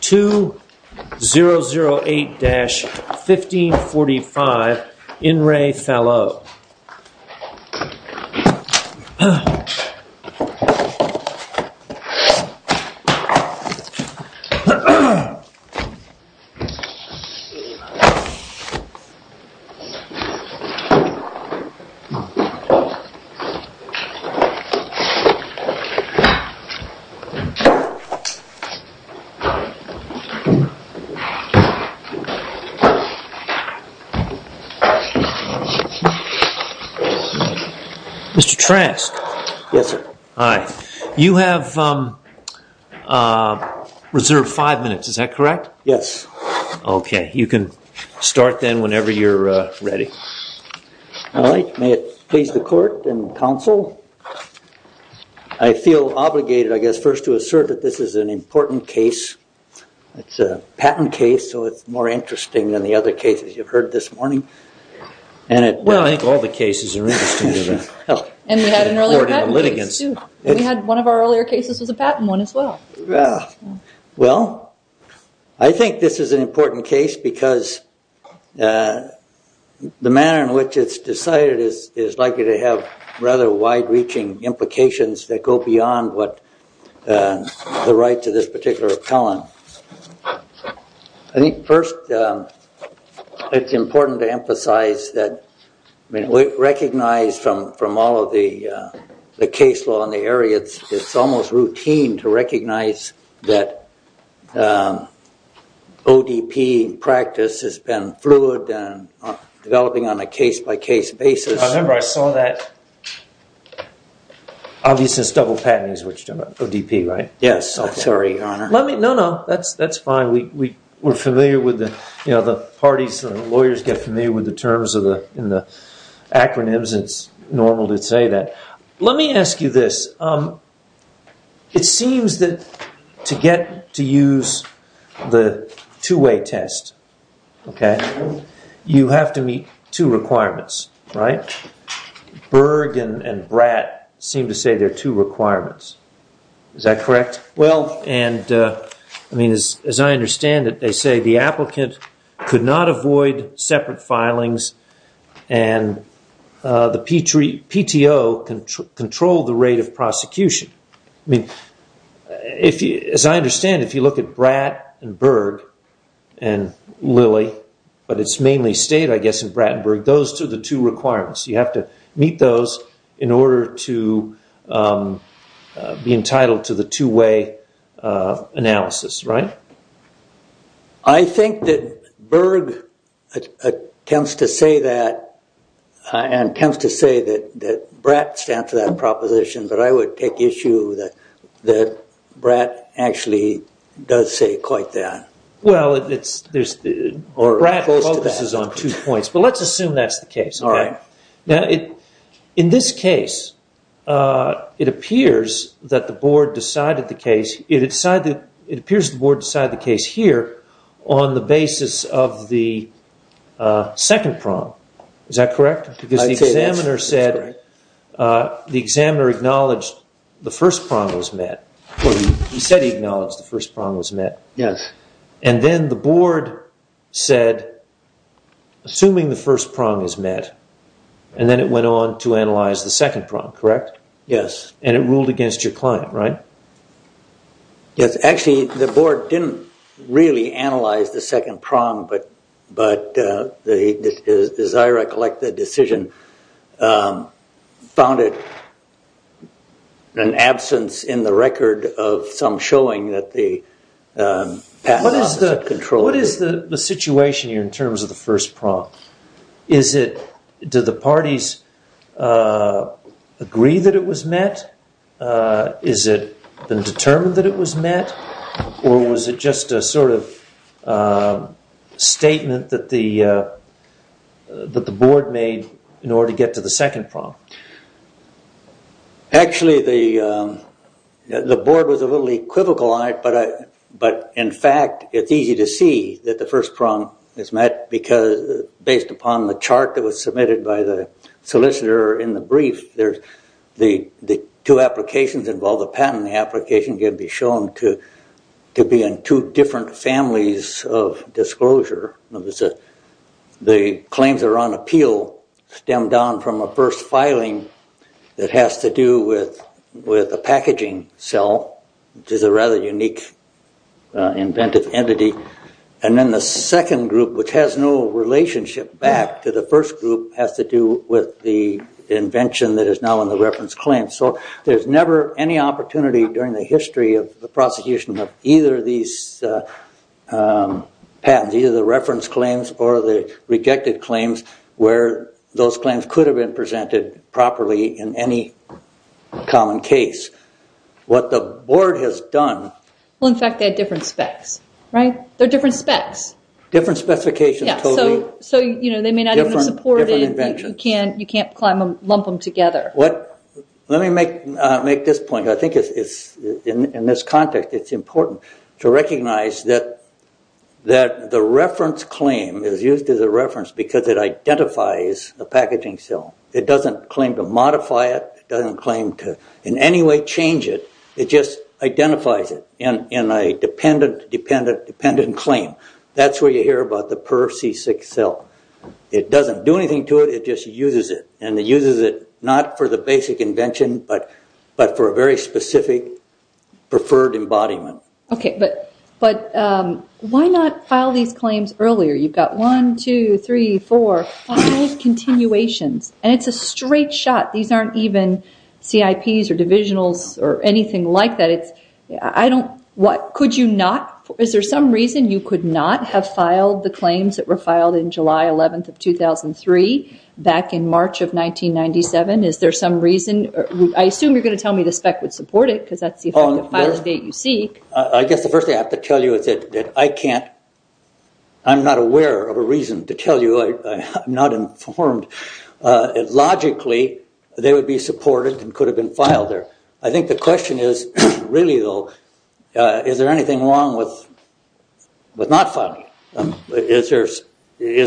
2-008-1545 In Re Fallaux Mr. Trask, you have reserved five minutes, is that correct? Yes. Okay, you can start then whenever you're ready. All right, may it please the court and counsel, I feel obligated I guess first to assert that this is an important case. It's a patent case, so it's more interesting than the other cases you've heard this morning. Well, I think all the cases are interesting. And we had an earlier patent case too. One of our earlier cases was a patent one as well. Well, I think this is an important case because the manner in which it's decided is likely to have rather wide-reaching implications that go beyond the right to this particular appellant. I think first it's important to emphasize that we recognize from all of the case law in the area, it's almost routine to recognize that ODP practice has been fluid and developing on a case-by-case basis. I remember I saw that. Obviously, it's double patenting is what you're talking about. ODP, right? Yes. Sorry, Your Honor. No, no, that's fine. We're familiar with the parties, the lawyers get familiar with the terms and the acronyms. It's normal to say that. Let me ask you this. It seems that to get to use the two-way test, okay, you have to meet two requirements, right? Berg and Bratt seem to say they're two requirements. Is that correct? Well, and, I mean, as I understand it, they say the applicant could not avoid separate filings and the PTO controlled the rate of prosecution. I mean, as I understand it, if you look at Bratt and Berg and Lilly, but it's mainly stayed, I guess, in Bratt and Berg, those are the two requirements. You have to meet those in order to be entitled to the two-way analysis, right? I think that Berg tends to say that and tends to say that Bratt stands for that proposition, but I would take issue that Bratt actually does say quite that. Well, Bratt focuses on two points, but let's assume that's the case. Now, in this case, it appears that the board decided the case here on the basis of the second prong. Is that correct? Because the examiner said the examiner acknowledged the first prong was met. He said he acknowledged the first prong was met. Yes. And then the board said, assuming the first prong is met, and then it went on to analyze the second prong, correct? Yes. And it ruled against your client, right? Yes. Actually, the board didn't really analyze the second prong, but as I recollect the decision, found it an absence in the record of some showing that the patent office had controlled it. What is the situation here in terms of the first prong? Is it, do the parties agree that it was met? Is it been determined that it was met? Or was it just a sort of statement that the board made in order to get to the second prong? Actually, the board was a little equivocal on it, but in fact, it's easy to see that the first prong is met because based upon the chart that was submitted by the solicitor in the brief, the two applications involve a patent application can be shown to be in two different families of disclosure. The claims are on appeal stemmed down from a first filing that has to do with a packaging cell, which is a rather unique inventive entity. And then the second group, which has no relationship back to the first group, has to do with the invention that is now in the reference claim. So there's never any opportunity during the history of the prosecution of either these patents, either the reference claims or the rejected claims, where those claims could have been presented properly in any common case. What the board has done... Well, in fact, they had different specs, right? They're different specs. Different specifications, totally. So, you know, they may not even support it. Different inventions. You can't lump them together. Let me make this point. I think in this context it's important to recognize that the reference claim is used as a reference because it identifies the packaging cell. It doesn't claim to modify it. It doesn't claim to in any way change it. It just identifies it in a dependent claim. That's where you hear about the per C6 cell. It doesn't do anything to it. It just uses it, and it uses it not for the basic invention but for a very specific preferred embodiment. Okay, but why not file these claims earlier? You've got one, two, three, four. File those continuations. And it's a straight shot. These aren't even CIPs or divisionals or anything like that. I don't... Could you not? Is there some reason you could not have filed the claims that were filed in July 11th of 2003 back in March of 1997? Is there some reason? I assume you're going to tell me the spec would support it because that's the final date you seek. I guess the first thing I have to tell you is that I can't... I'm not aware of a reason to tell you. I'm not informed. Logically, they would be supported and could have been filed there. I think the question is, really, though, is there anything wrong with not filing? Is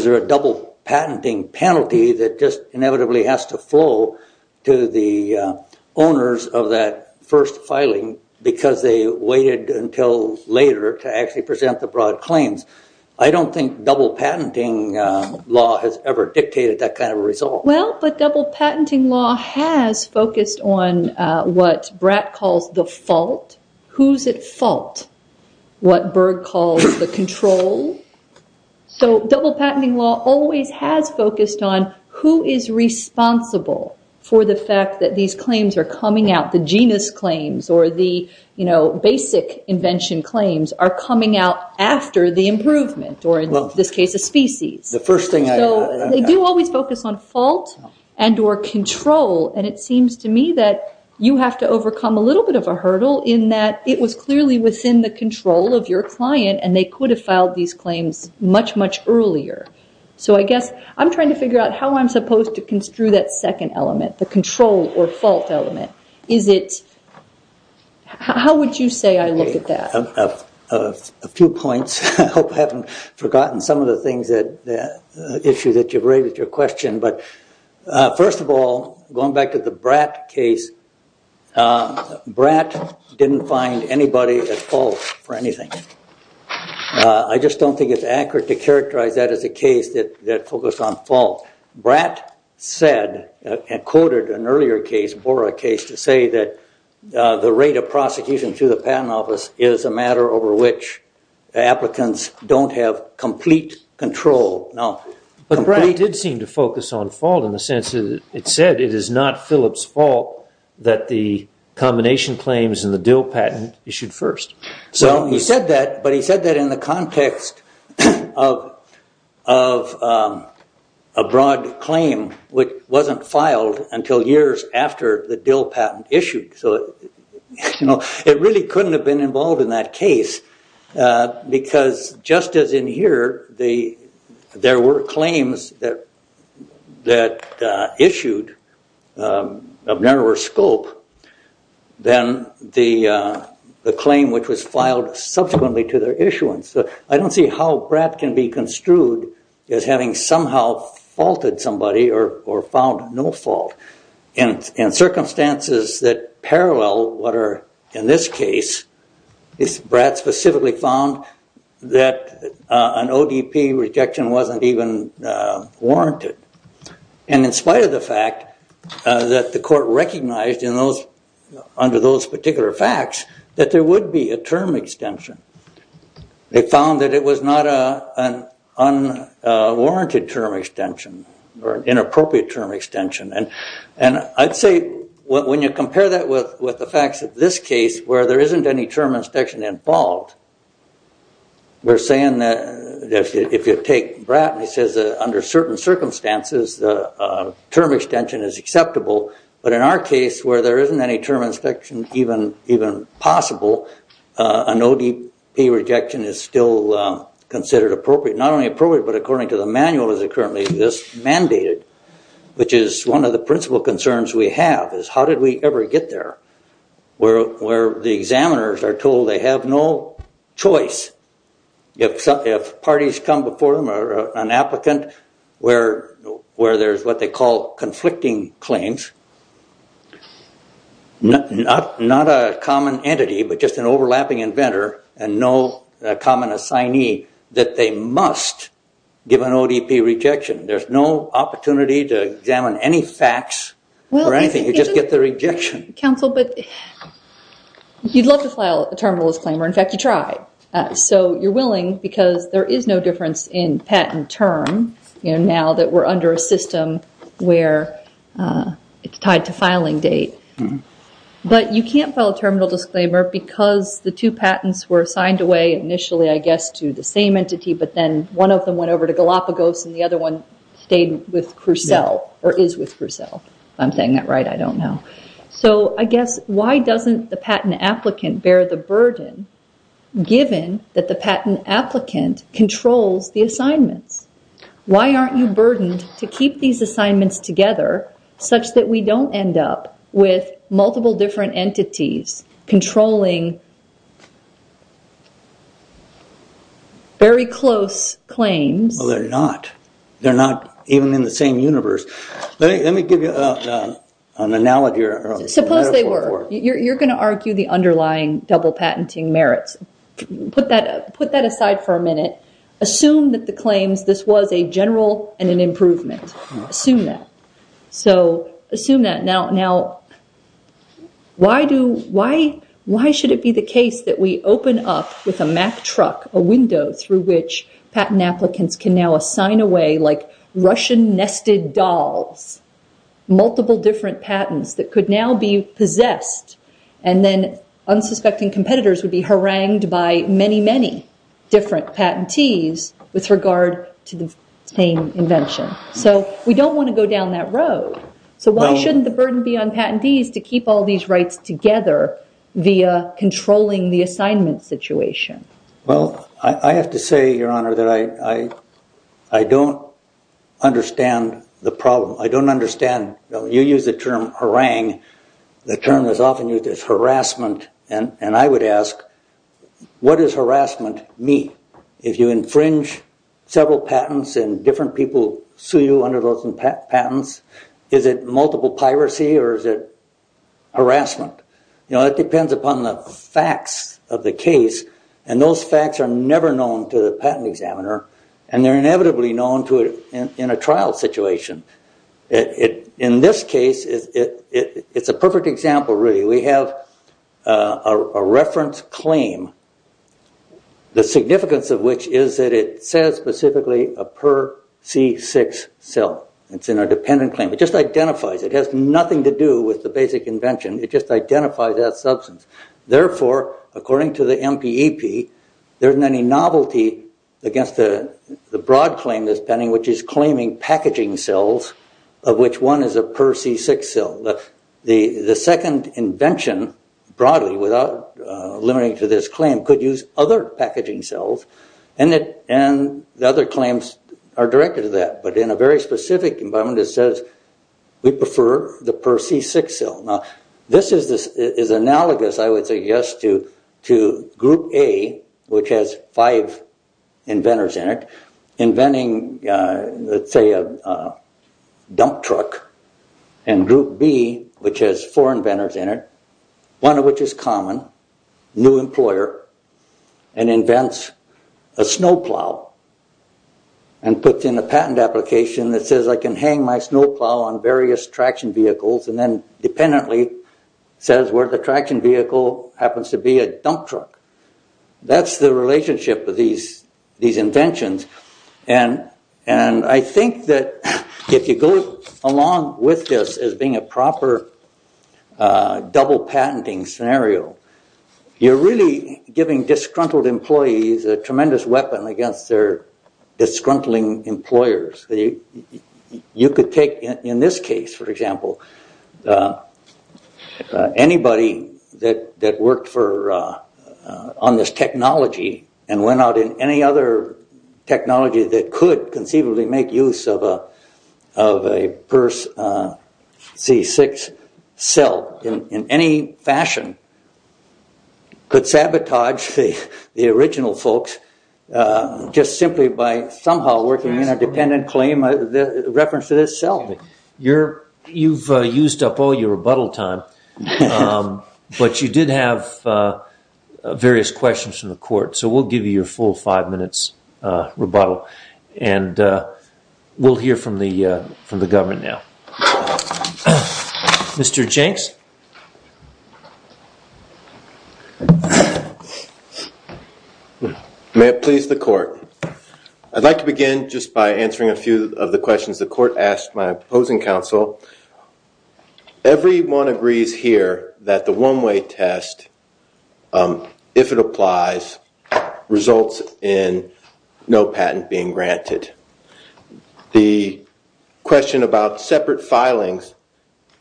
there a double patenting penalty that just inevitably has to flow to the owners of that first filing because they waited until later to actually present the broad claims? I don't think double patenting law has ever dictated that kind of result. Well, but double patenting law has focused on what Bratt calls the fault. Who's at fault? What Berg calls the control. Double patenting law always has focused on who is responsible for the fact that these claims are coming out. The genus claims or the basic invention claims are coming out after the improvement or, in this case, a species. They do always focus on fault and or control. It seems to me that you have to overcome a little bit of a hurdle in that it was clearly within the control of your client and they could have filed these claims much, much earlier. I guess I'm trying to figure out how I'm supposed to construe that second element, the control or fault element. How would you say I look at that? A few points. I hope I haven't forgotten some of the things that issue that you've raised with your question. But first of all, going back to the Bratt case, Bratt didn't find anybody at fault for anything. I just don't think it's accurate to characterize that as a case that focused on fault. Bratt said and quoted an earlier case, a BORA case, to say that the rate of prosecution to the patent office is a matter over which applicants don't have complete control. But Bratt did seem to focus on fault in the sense that it said it is not Phillips' fault that the combination claims in the Dill patent issued first. He said that, but he said that in the context of a broad claim which wasn't filed until years after the Dill patent issued. It really couldn't have been involved in that case because just as in here there were claims that issued of narrower scope than the claim which was filed subsequently to their issuance. I don't see how Bratt can be construed as having somehow faulted somebody or found no fault. In circumstances that parallel what are in this case, Bratt specifically found that an ODP rejection wasn't even warranted. And in spite of the fact that the court recognized under those particular facts that there would be a term extension, they found that it was not an unwarranted term extension or an inappropriate term extension. And I'd say when you compare that with the facts of this case where there isn't any term extension involved, we're saying that if you take Bratt and he says that under certain circumstances the term extension is acceptable, but in our case where there isn't any term extension even possible, an ODP rejection is still considered appropriate. Not only appropriate, but according to the manual as it currently exists, mandated. Which is one of the principal concerns we have is how did we ever get there where the examiners are told they have no choice. If parties come before them or an applicant where there's what they call conflicting claims, not a common entity but just an overlapping inventor and no common assignee that they must give an ODP rejection. There's no opportunity to examine any facts or anything. You just get the rejection. You'd love to file a terminal disclaimer. In fact, you tried. So you're willing because there is no difference in patent term now that we're under a system where it's tied to filing date. But you can't file a terminal disclaimer because the two patents were signed away initially I guess to the same entity, but then one of them went over to Galapagos and the other one stayed with Crusoe or is with Crusoe. If I'm saying that right, I don't know. So I guess why doesn't the patent applicant bear the burden given that the patent applicant controls the assignments? Why aren't you burdened to keep these assignments together such that we don't end up with multiple different entities controlling very close claims? Well, they're not. They're not even in the same universe. Let me give you an analogy or a metaphor. Suppose they were. You're going to argue the underlying double patenting merits. Put that aside for a minute. Assume that the claims, this was a general and an improvement. Assume that. Now, why should it be the case that we open up with a Mack truck a window through which patent applicants can now assign away like Russian nested dolls, multiple different patents that could now be possessed and then unsuspecting competitors would be harangued by many, many different patentees with regard to the same invention. So we don't want to go down that road. So why shouldn't the burden be on patentees to keep all these rights together via controlling the assignment situation? Well, I have to say, Your Honor, that I don't understand the problem. I don't understand. You use the term harangue. The term is often used as harassment. And I would ask, what does harassment mean? If you infringe several patents and different people sue you under those patents, is it multiple piracy or is it harassment? You know, it depends upon the facts of the case. And those facts are never known to the patent examiner. And they're inevitably known to it in a trial situation. In this case, it's a perfect example, really. We have a reference claim, the significance of which is that it says specifically a per C6 cell. It's in a dependent claim. It just identifies. It has nothing to do with the basic invention. It just identifies that substance. Therefore, according to the MPEP, there isn't any novelty against the broad claim that's pending, which is claiming packaging cells of which one is a per C6 cell. The second invention, broadly, without limiting to this claim, could use other packaging cells. And the other claims are directed to that. But in a very specific environment, it says we prefer the per C6 cell. Now, this is analogous, I would say, yes, to group A, which has five inventors in it, inventing, let's say, a dump truck, and group B, which has four inventors in it, one of which is common, new employer, and invents a snowplow and puts in a patent application that says I can hang my snowplow on various traction vehicles and then dependently says where the traction vehicle happens to be a dump truck. That's the relationship with these inventions. And I think that if you go along with this as being a proper double patenting scenario, you're really giving disgruntled employees a tremendous weapon against their disgruntling employers. You could take, in this case, for example, anybody that worked on this technology and went out in any other technology that could conceivably make use of a per C6 cell in any fashion could sabotage the original folks just simply by somehow working in a dependent claim reference to this cell. You've used up all your rebuttal time. But you did have various questions from the court. So we'll give you your full five minutes rebuttal. And we'll hear from the government now. Mr. Jenks? May it please the court. I'd like to begin just by answering a few of the questions the court asked my opposing counsel. Everyone agrees here that the one-way test, if it applies, results in no patent being granted. The question about separate filings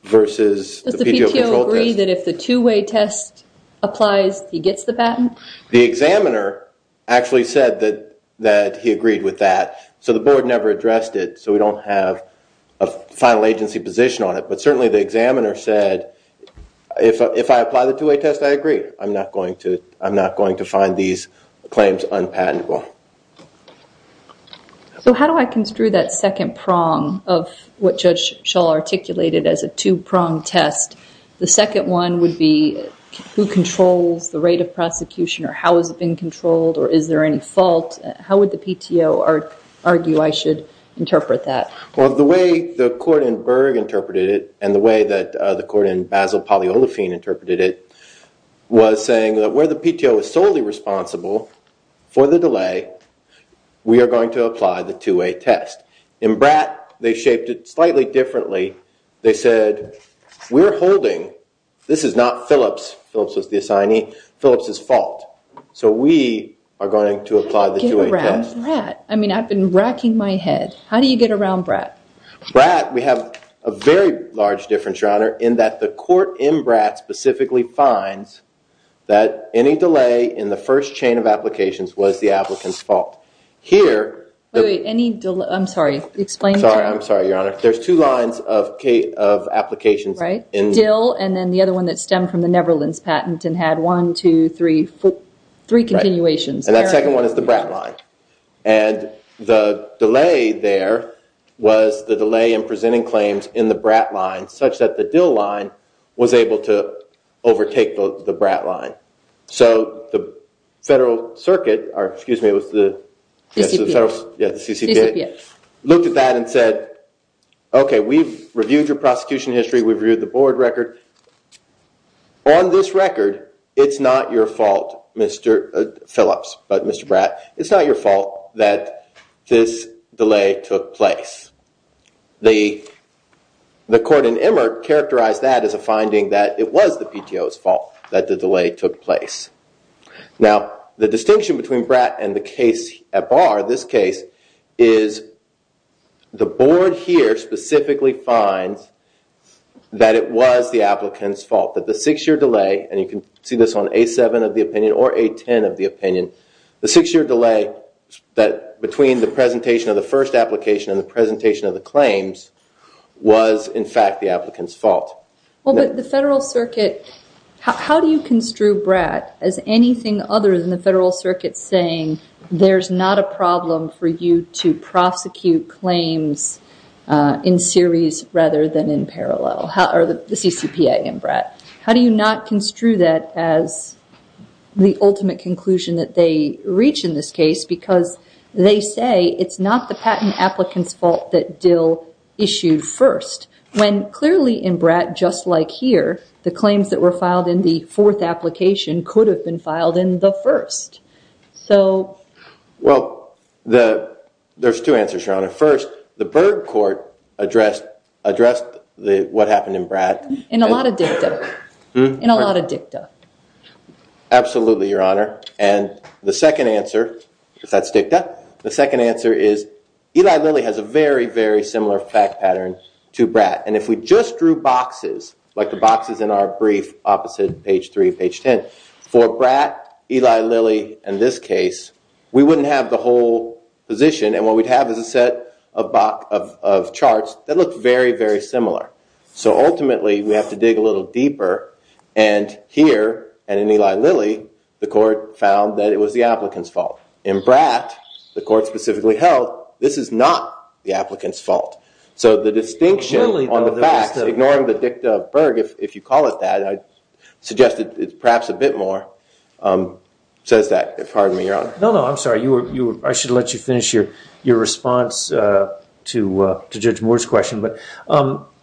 versus the PDO control test. Does the PTO agree that if the two-way test applies, he gets the patent? The examiner actually said that he agreed with that. So the board never addressed it. So we don't have a final agency position on it. But certainly the examiner said, if I apply the two-way test, I agree. I'm not going to find these claims unpatentable. So how do I construe that second prong of what Judge Shull articulated as a two-prong test? The second one would be who controls the rate of prosecution or how has it been controlled or is there any fault? How would the PTO argue I should interpret that? Well, the way the court in Berg interpreted it and the way that the court in Basil Poliolafine interpreted it was saying that where the PTO is solely responsible for the delay, we are going to apply the two-way test. In Bratt, they shaped it slightly differently. They said, we're holding, this is not Phillips. Phillips was the assignee. Phillips' fault. So we are going to apply the two-way test. In Bratt? I mean, I've been racking my head. How do you get around Bratt? Bratt, we have a very large difference, Your Honor, in that the court in Bratt specifically finds that any delay in the first chain of applications was the applicant's fault. Wait, any delay? I'm sorry, explain. I'm sorry, Your Honor. There's two lines of applications. Dill and then the other one that stemmed from the Neverland's patent and had one, two, three, four, three continuations. And that second one is the Bratt line. And the delay there was the delay in presenting claims in the Bratt line such that the Dill line was able to overtake the Bratt line. So the federal circuit, or excuse me, it was the CCD, looked at that and said, okay, we've reviewed your prosecution history, we've reviewed the board record. On this record, it's not your fault, Mr. Phillips, but Mr. Bratt, it's not your fault that this delay took place. The court in Emert characterized that as a finding that it was the PTO's fault that the delay took place. Now, the distinction between Bratt and the case at bar, this case, is the board here specifically finds that it was the applicant's fault. That the six-year delay, and you can see this on A7 of the opinion or A10 of the opinion, the six-year delay between the presentation of the first application and the presentation of the claims was, in fact, the applicant's fault. Well, but the federal circuit, how do you construe Bratt as anything other than the federal circuit saying there's not a problem for you to prosecute claims in series rather than in parallel, or the CCPA in Bratt? How do you not construe that as the ultimate conclusion that they reach in this case? Because they say it's not the patent applicant's fault that Dill issued first, when clearly in Bratt, just like here, the claims that were filed in the fourth application could have been filed in the first. Well, there's two answers, Your Honor. First, the Berg Court addressed what happened in Bratt. In a lot of dicta. Absolutely, Your Honor. And the second answer, if that's dicta, the second answer is Eli Lilly has a very, very similar fact pattern to Bratt. And if we just drew boxes, like the boxes in our brief opposite page 3, page 10, for Bratt, Eli Lilly, and this case, we wouldn't have the whole position. And what we'd have is a set of charts that look very, very similar. So ultimately, we have to dig a little deeper. And here, and in Eli Lilly, the court found that it was the applicant's fault. In Bratt, the court specifically held this is not the applicant's fault. So the distinction on the facts, ignoring the dicta of Berg, if you call it that, I suggest it's perhaps a bit more, says that. Pardon me, Your Honor. No, no, I'm sorry. I should let you finish your response to Judge Moore's question. But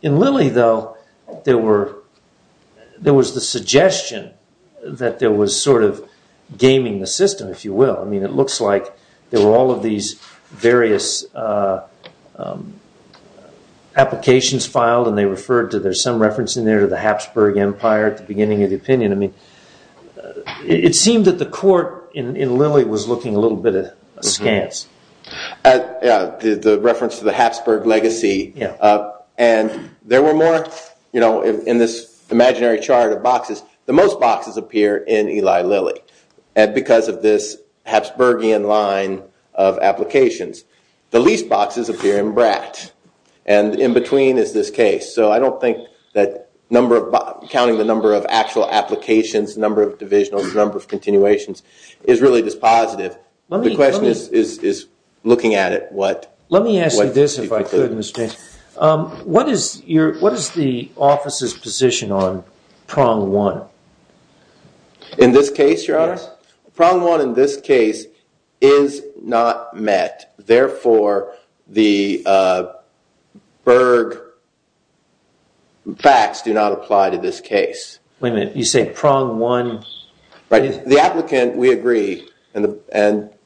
in Lilly, though, there was the suggestion that there was sort of gaming the system, if you will. I mean, it looks like there were all of these various applications filed. And they referred to there's some reference in there to the Habsburg Empire at the beginning of the opinion. I mean, it seemed that the court in Lilly was looking a little bit askance. Yeah, the reference to the Habsburg legacy. And there were more, you know, in this imaginary chart of boxes. The most boxes appear in Eli Lilly. And because of this Habsburgian line of applications. The least boxes appear in Bratt. And in between is this case. So I don't think that counting the number of actual applications, number of divisionals, number of continuations is really this positive. The question is looking at it. Let me ask you this, if I could, Mr. Cain. What is the office's position on prong one? In this case, your honor? Prong one in this case is not met. Therefore, the Berg facts do not apply to this case. Wait a minute, you say prong one. The applicant, we agree. And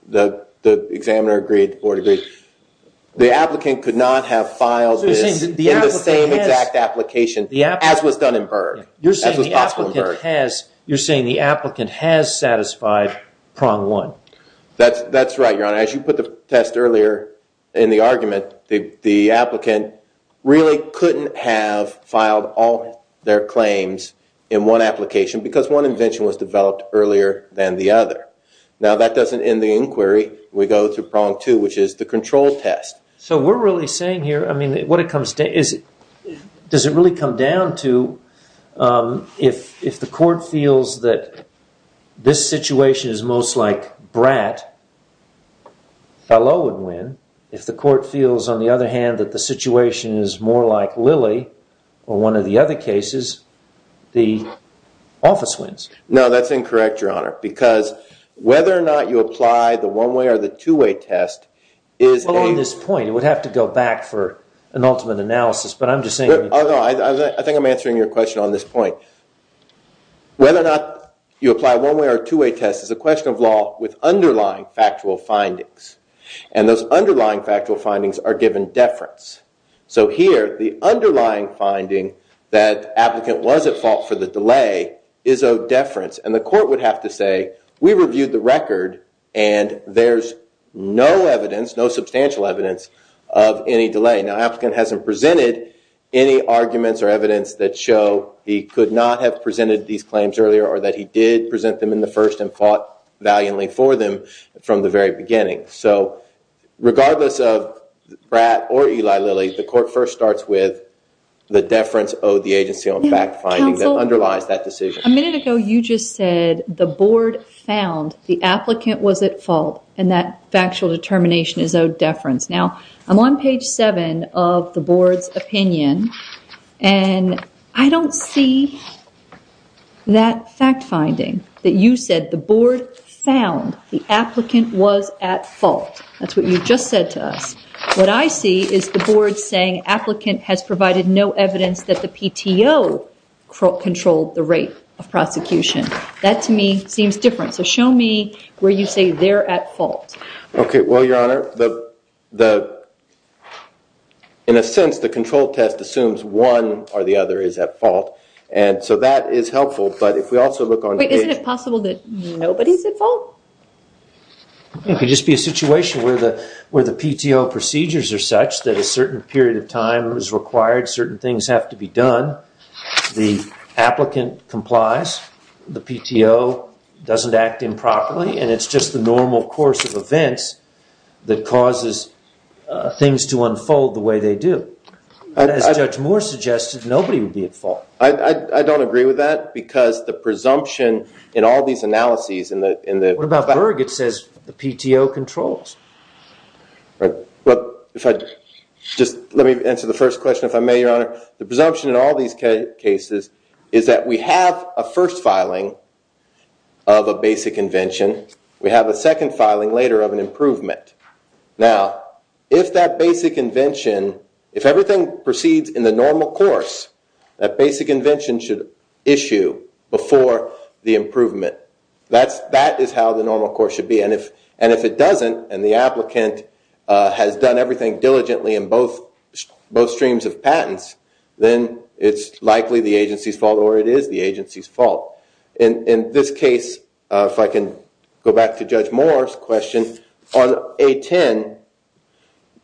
the examiner agreed, the board agreed. The applicant could not have filed this in the same exact application as was done in Berg. You're saying the applicant has satisfied prong one. That's right, your honor. As you put the test earlier in the argument, the applicant really couldn't have filed all their claims in one application. Because one invention was developed earlier than the other. Now that doesn't end the inquiry. We go to prong two, which is the control test. So we're really saying here, does it really come down to if the court feels that this situation is most like Bratt, Fallot would win. If the court feels, on the other hand, that the situation is more like Lilly, or one of the other cases, the office wins. No, that's incorrect, your honor. Because whether or not you apply the one-way or the two-way test is... Well, on this point, it would have to go back for an ultimate analysis, but I'm just saying... I think I'm answering your question on this point. Whether or not you apply a one-way or a two-way test is a question of law with underlying factual findings. And those underlying factual findings are given deference. So here, the underlying finding that the applicant was at fault for the delay is of deference. And the court would have to say, we reviewed the record, and there's no evidence, no substantial evidence of any delay. Now, the applicant hasn't presented any arguments or evidence that show he could not have presented these claims earlier, or that he did present them in the first and fought valiantly for them from the very beginning. So, regardless of Brad or Eli Lilly, the court first starts with the deference owed the agency on fact-finding that underlies that decision. A minute ago, you just said, the board found the applicant was at fault, and that factual determination is owed deference. Now, I'm on page 7 of the board's opinion, and I don't see that fact-finding that you said, the board found the applicant was at fault. That's what you just said to us. What I see is the board saying, applicant has provided no evidence that the PTO controlled the rate of prosecution. That, to me, seems different. So show me where you say they're at fault. Okay. Well, Your Honor, in a sense, the control test assumes one or the other is at fault. And so that is helpful. Wait, isn't it possible that nobody's at fault? It could just be a situation where the PTO procedures are such that a certain period of time is required, certain things have to be done, the applicant complies, the PTO doesn't act improperly, and it's just the normal course of events that causes things to unfold the way they do. As Judge Moore suggested, nobody would be at fault. I don't agree with that because the presumption in all these analyses in the- What about Berg? It says the PTO controls. Right. But if I just let me answer the first question, if I may, Your Honor. The presumption in all these cases is that we have a first filing of a basic invention. We have a second filing later of an improvement. Now, if that basic invention, if everything proceeds in the normal course, that basic invention should issue before the improvement. That is how the normal course should be. And if it doesn't and the applicant has done everything diligently in both streams of patents, then it's likely the agency's fault or it is the agency's fault. In this case, if I can go back to Judge Moore's question, on A10,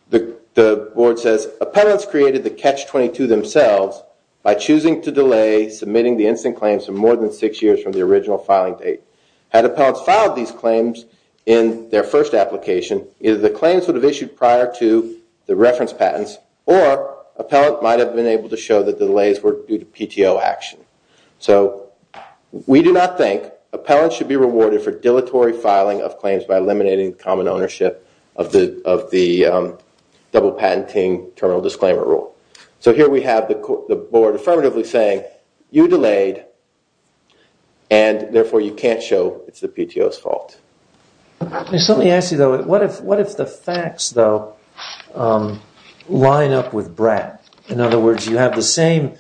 the board says, Appellants created the Catch-22 themselves by choosing to delay submitting the instant claims for more than six years from the original filing date. Had appellants filed these claims in their first application, either the claims would have issued prior to the reference patents or appellant might have been able to show that the delays were due to PTO action. So we do not think appellants should be rewarded for dilatory filing of claims by eliminating common ownership of the double patenting terminal disclaimer rule. So here we have the board affirmatively saying, You delayed and therefore you can't show it's the PTO's fault. Let me ask you, though, what if the facts, though, line up with BRAC? In other words, you have the same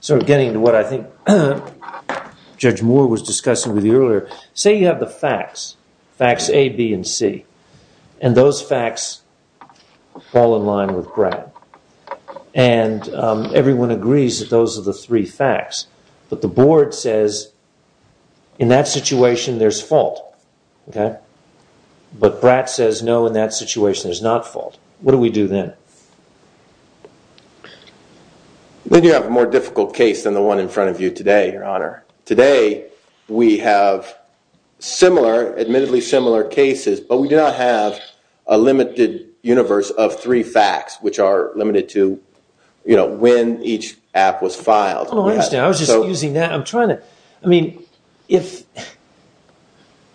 sort of getting to what I think Judge Moore was discussing with you earlier. Say you have the facts, facts A, B, and C. And those facts fall in line with BRAC. And everyone agrees that those are the three facts. But the board says, In that situation, there's fault. But BRAC says, No, in that situation, there's not fault. What do we do then? Then you have a more difficult case than the one in front of you today, Your Honor. Today, we have similar, admittedly similar cases, but we do not have a limited universe of three facts, which are limited to, you know, when each app was filed. Oh, I understand. I was just using that. I'm trying to, I mean, if,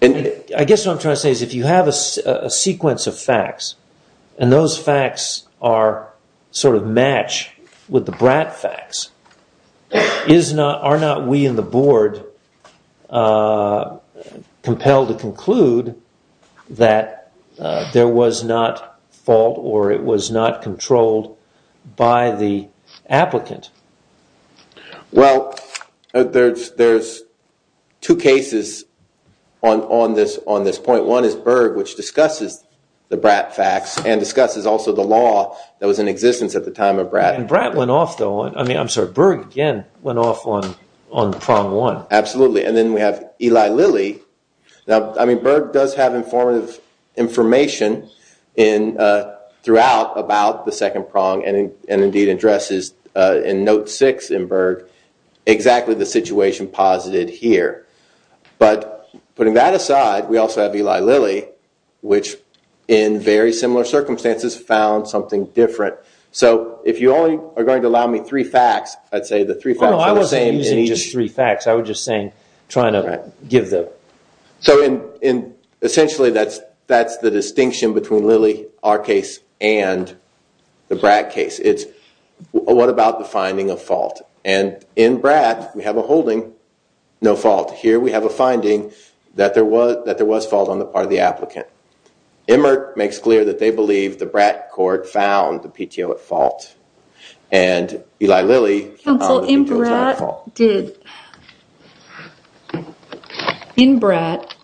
I guess what I'm trying to say is if you have a sequence of facts and those facts are sort of matched with the BRAC facts, are not we in the board compelled to conclude that there was not fault or it was not controlled by the applicant? Well, there's two cases on this point. One is Berg, which discusses the BRAC facts and discusses also the law that was in existence at the time of BRAC. And BRAC went off, though. I mean, I'm sorry, Berg again went off on prong one. Absolutely. And then we have Eli Lilly. Now, I mean, Berg does have informative information in throughout about the second prong and indeed addresses in note six in Berg exactly the situation posited here. But putting that aside, we also have Eli Lilly, which in very similar circumstances found something different. So if you only are going to allow me three facts, I'd say the three facts are the same. No, I wasn't using just three facts. I was just saying, trying to give the... So essentially that's the distinction between Lilly, our case, and the BRAC case. It's what about the finding of fault? And in BRAC, we have a holding, no fault. Here we have a finding that there was fault on the part of the applicant. Immert makes clear that they believe the BRAC court found the PTO at fault. And Eli Lilly... In BRAC,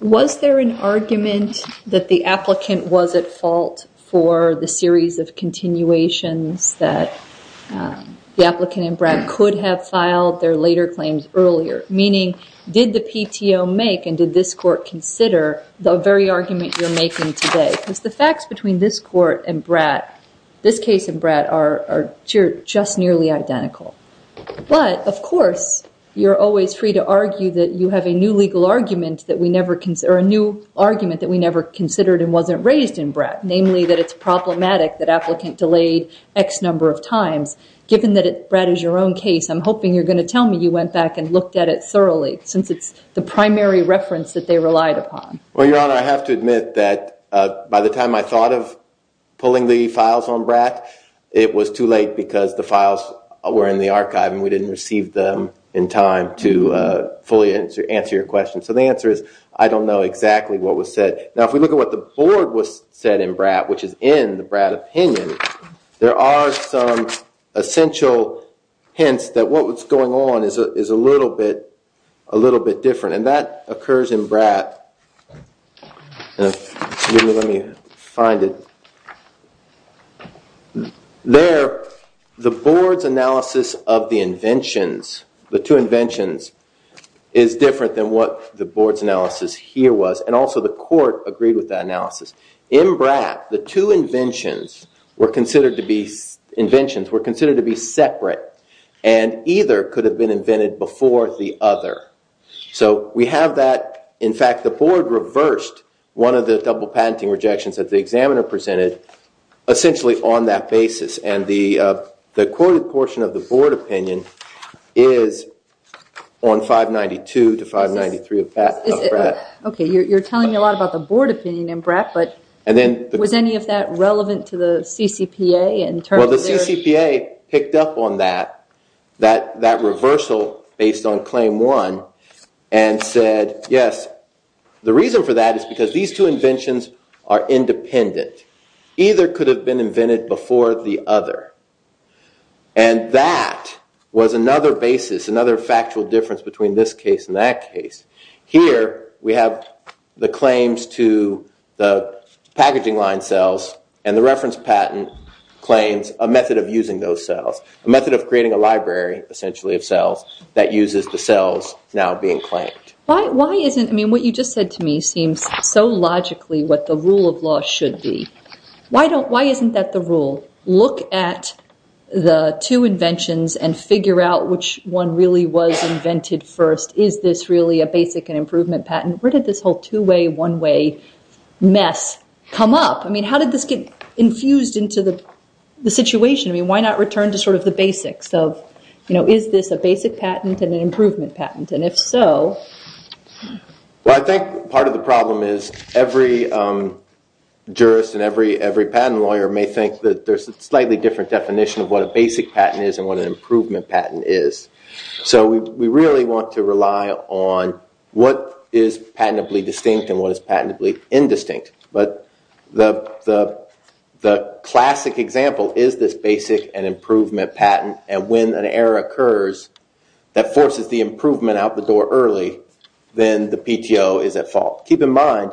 was there an argument that the applicant was at fault for the series of continuations that the applicant in BRAC could have filed their later claims earlier? Meaning, did the PTO make and did this court consider the very argument you're making today? Because the facts between this court and BRAC, this case and BRAC are just nearly identical. But of course, you're always free to argue that you have a new argument that we never considered and wasn't raised in BRAC. Namely, that it's problematic that the applicant delayed X number of times. Given that BRAC is your own case, I'm hoping you're going to tell me you went back and looked at it thoroughly, since it's the primary reference that they relied upon. Well, Your Honor, I have to admit that by the time I thought of pulling the files on BRAC, it was too late because the files were in the archive and we didn't receive them in time to fully answer your question. So the answer is, I don't know exactly what was said. Now, if we look at what the board said in BRAC, which is in the BRAC opinion, there are some essential hints that what was going on is a little bit different. And that occurs in BRAC... Excuse me, let me find it. There, the board's analysis of the inventions, the two inventions, is different than what the board's analysis here was. And also the court agreed with that analysis. In BRAC, the two inventions were considered to be separate and either could have been invented before the other. So we have that. In fact, the board reversed one of the double patenting rejections that the examiner presented, essentially on that basis. And the courted portion of the board opinion is on 592 to 593 of BRAC. Okay, you're telling me a lot about the board opinion in BRAC, but was any of that relevant to the CCPA in terms of their... And said, yes, the reason for that is because these two inventions are independent. Either could have been invented before the other. And that was another basis, another factual difference between this case and that case. Here, we have the claims to the packaging line cells and the reference patent claims a method of using those cells now being claimed. Why isn't... I mean, what you just said to me seems so logically what the rule of law should be. Why isn't that the rule? Look at the two inventions and figure out which one really was invented first. Is this really a basic and improvement patent? Where did this whole two-way, one-way mess come up? I mean, how did this get infused into the situation? I mean, why not return to sort of the basics of, you know, is this a basic patent and an improvement patent? And if so... Well, I think part of the problem is every jurist and every patent lawyer may think that there's a slightly different definition of what a basic patent is and what an improvement patent is. So we really want to rely on what is patentably distinct and what is patentably indistinct. But the classic example is this basic and improvement patent, and when an error occurs that forces the improvement out the door early, then the PTO is at fault. Keep in mind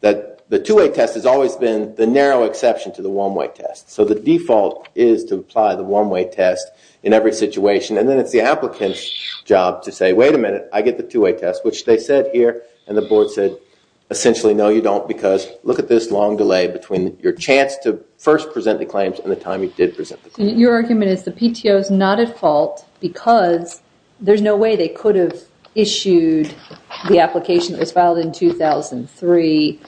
that the two-way test has always been the narrow exception to the one-way test. So the default is to apply the one-way test in every situation, and then it's the applicant's job to say, look at this long delay between your chance to first present the claims and the time you did present the claims. Your argument is the PTO is not at fault because there's no way they could have issued the application that was filed in 2003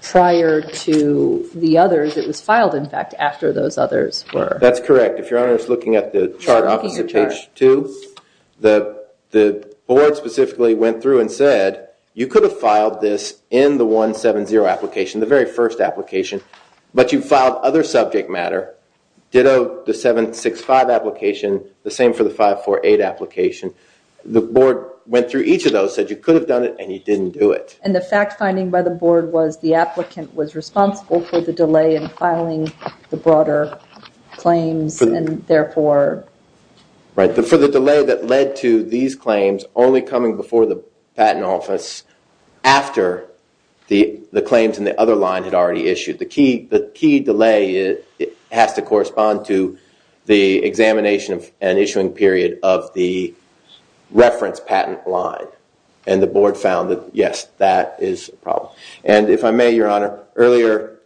prior to the others. It was filed, in fact, after those others were... That's correct. If your Honor is looking at the chart opposite page 2, the board specifically went through and said, you could have filed this in the 170 application, the very first application, but you filed other subject matter. Ditto the 765 application, the same for the 548 application. The board went through each of those, said you could have done it, and you didn't do it. And the fact finding by the board was the applicant was responsible for the delay in filing the broader claims, and therefore... Right. For the delay that led to these claims only coming before the patent office after the claims in the other line had already issued. The key delay has to correspond to the examination and issuing period of the reference patent line. And the board found that, yes, that is a problem. And if I may, Your Honor, earlier,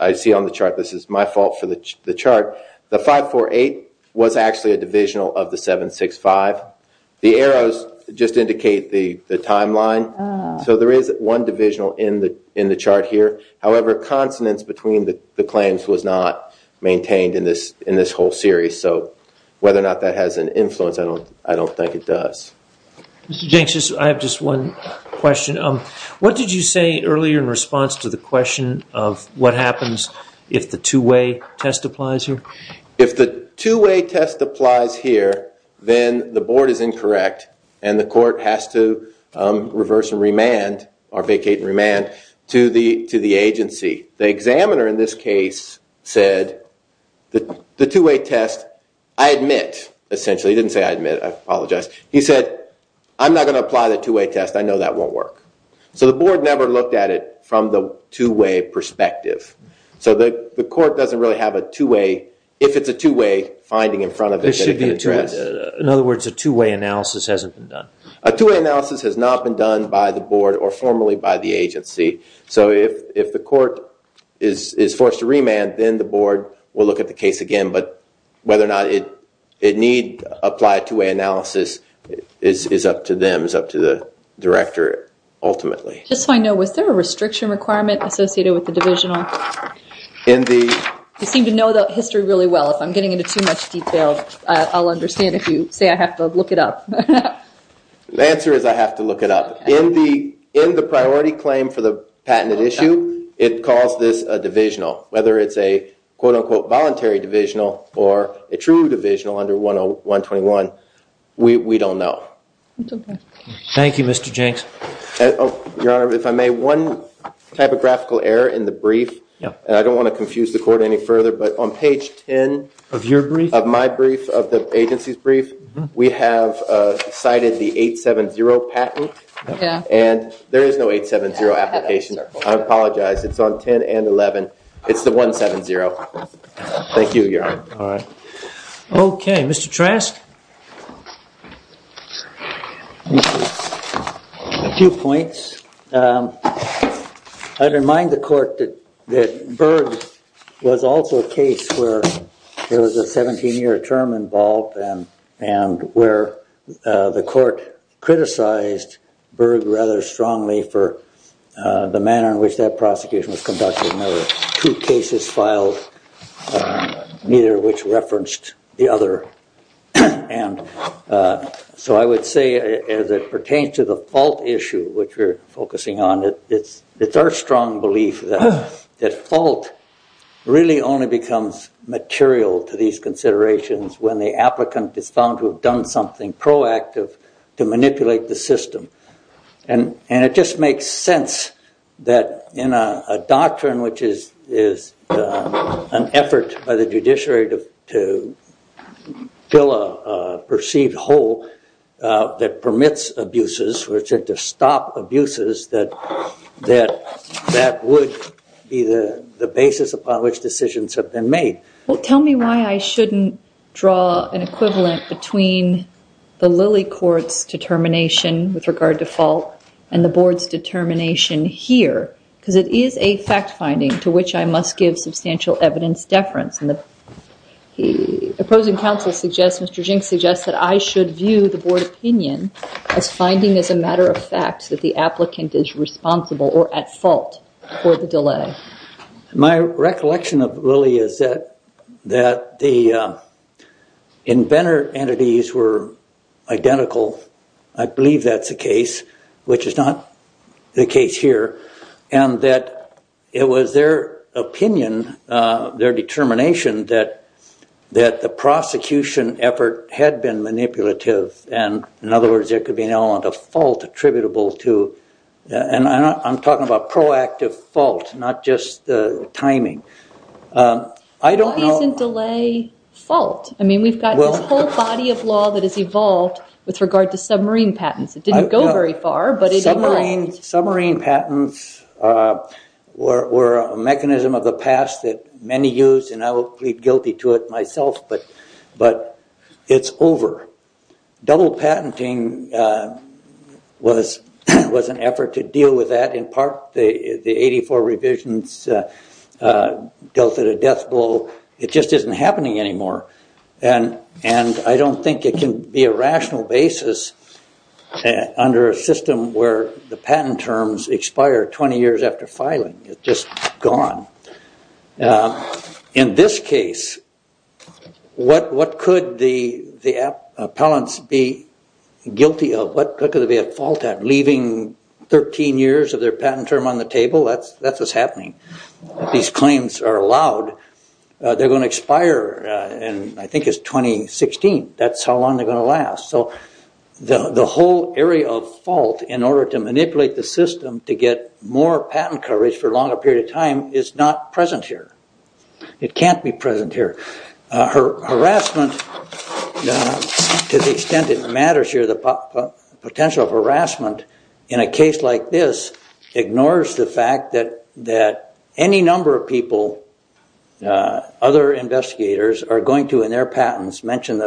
I see on the chart, this is my fault for the chart, the 548 was actually a divisional of the 765. The arrows just indicate the timeline. So there is one divisional in the chart here. However, consonance between the claims was not maintained in this whole series. So whether or not that has an influence, I don't think it does. Mr. Jenks, I have just one question. What did you say earlier in response to the question of what happens if the two-way test applies here? If the two-way test applies here, then the board is incorrect, and the court has to reverse and remand or vacate and remand to the agency. The examiner in this case said the two-way test, I admit, essentially, he didn't say I admit, I apologize. He said, I'm not going to apply the two-way test. I know that won't work. So the board never looked at it from the two-way perspective. So the court doesn't really have a two-way, if it's a two-way finding in front of it. In other words, a two-way analysis hasn't been done. A two-way analysis has not been done by the board or formerly by the board. We'll look at the case again, but whether or not it need applied two-way analysis is up to them, is up to the director ultimately. Just so I know, was there a restriction requirement associated with the divisional? You seem to know the history really well. If I'm getting into too much detail, I'll understand if you say I have to look it up. The answer is I have to look it up. In the case of a quote-unquote voluntary divisional or a true divisional under 10121, we don't know. Thank you, Mr. Jenks. Your Honor, if I may, one typographical error in the brief, and I don't want to confuse the court any further, but on page 10 of my brief, of the agency's brief, we have cited the 870 patent, and there is no 870 application. I apologize. It's on 10 and 11. It's the 170. Thank you, Your Honor. Okay. Mr. Trask? A few points. I'd remind the court that Berg was also a case where there was a 17-year term involved and where the court criticized Berg rather strongly for the manner in which that prosecution was conducted. There were two cases filed, neither of which referenced the other. So I would say as it pertains to the fault issue, which we're focusing on, it's our strong belief that fault really only becomes material to these considerations when the applicant is found to have done something proactive to manipulate the system. And it just makes sense that in a doctrine which is an effort by the judiciary to fill a perceived hole that permits abuses, which is to stop abuses, that that would be the basis upon which decisions have been made. Well, tell me why I shouldn't draw an equivalent between the Lilly court's determination with regard to fault and the board's determination here? Because it is a fact-finding to which I must give substantial evidence deference. And the opposing counsel suggests, Mr. Jinks suggests, that I think is responsible or at fault for the delay. My recollection of Lilly is that the inventor entities were identical. I believe that's the case, which is not the case here. And that it was their opinion, their determination, that the prosecution effort had been manipulative. And in other words, there could be an element of fault attributable to and I'm talking about proactive fault, not just the timing. Why isn't delay fault? I mean, we've got this whole body of law that has evolved with regard to submarine patents. It didn't go very far, but it evolved. Submarine patents were a mechanism of the past that many used and I will plead guilty to it myself, but it's over. Double patenting was an effort to deal with that in part. The 84 revisions dealt with a death blow. It just isn't happening anymore. And I don't think it can be a rational basis under a system where the patent terms expire 20 years after filing. It's just gone. In this case, what could the appellants be guilty of? What could they be at fault at? Leaving 13 years of their patent term on the table? That's what's happening. These claims are allowed. They're going to expire in I think it's 2016. That's how long they're going to last. So the whole area of fault in order to manipulate the system to get more patent coverage for a longer period of time is not present here. It can't be present here. Harassment, to the extent it matters here, the potential of harassment in a case like this ignores the fact that any number of people, other investigators are going to in their patents mention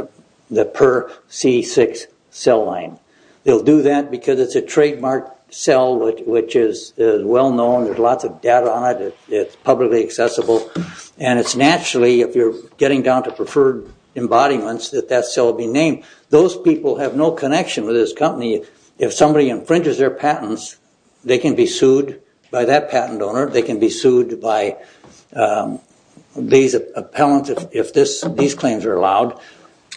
the per C6 cell line. They'll do that because it's a trademark cell which is well known. There's lots of data on it. It's publicly accessible. And it's naturally, if you're getting down to preferred embodiments, that that cell will be named. Those people have no connection with this company. If somebody infringes their patent, these appellants, if these claims are allowed,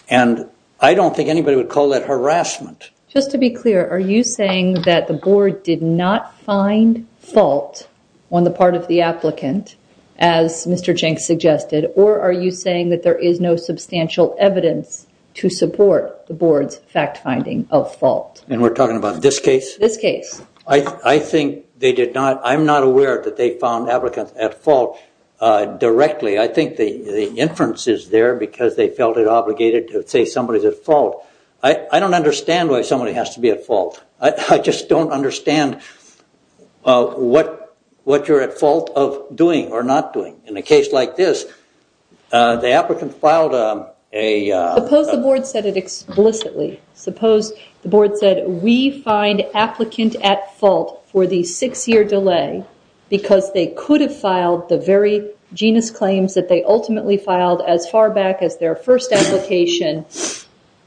and I don't think anybody would call that harassment. Just to be clear, are you saying that the board did not find fault on the part of the applicant, as Mr. Jenks suggested, or are you saying that there is no substantial evidence to support the board's fact finding of fault? And we're talking about this case? This case. I think they did not. I'm not aware that they found applicants at fault directly. I think the inference is there because they felt it obligated to say somebody's at fault. I don't understand why somebody has to be at fault. I just don't understand what you're at fault of doing or not doing. In a case like this, the applicant filed a... Suppose the board said, we find applicant at fault for the six-year delay because they could have filed the very genus claims that they ultimately filed as far back as their first application.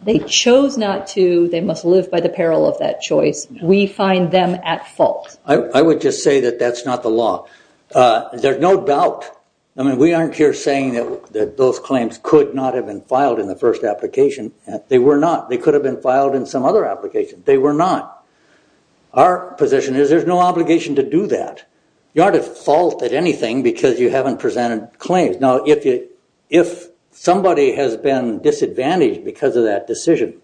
They chose not to. They must live by the peril of that choice. We find them at fault. I would just say that that's not the law. There's no doubt. I mean, we aren't here saying that those claims could not have been filed in the first application. They were not. They could have been filed in some other application. They were not. Our position is there's no obligation to do that. You aren't at fault at anything because you haven't presented claims. Now, if somebody has been disadvantaged because of that decision,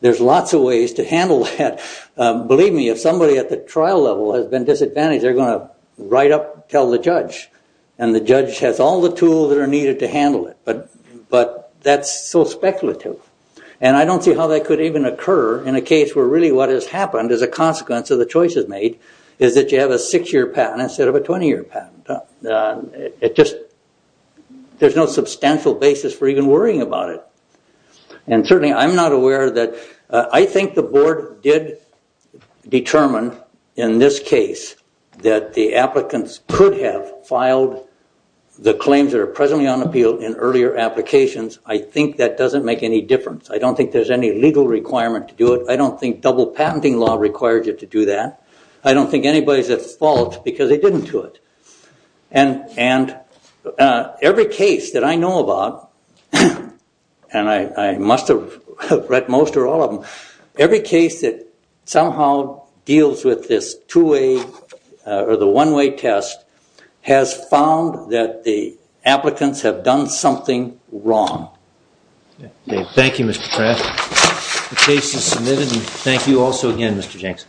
there's lots of ways to handle that. Believe me, if somebody at the trial level has been disadvantaged, they're going to write up and tell the judge. The judge has all the tools that are needed to handle it. That's so speculative. I don't see how that could even occur in a case where really what has happened as a consequence of the choices made is that you have a six-year patent instead of a 20-year patent. There's no substantial basis for even worrying about it. Certainly, I'm not aware that I think the board did determine in this case that the applicants could have filed the claims that are presently on appeal in earlier applications. I think that doesn't make any difference. I don't think there's any legal requirement to do it. I don't think double patenting law requires you to do that. I don't think anybody is at fault because they didn't do it. Every case that I know about, and I must have read most or all of them, every case that somehow deals with this two-way or the one-way test has found that the applicants have done something wrong. Thank you, Mr. Pratt. The case is submitted. Thank you also again, Mr. Jenks.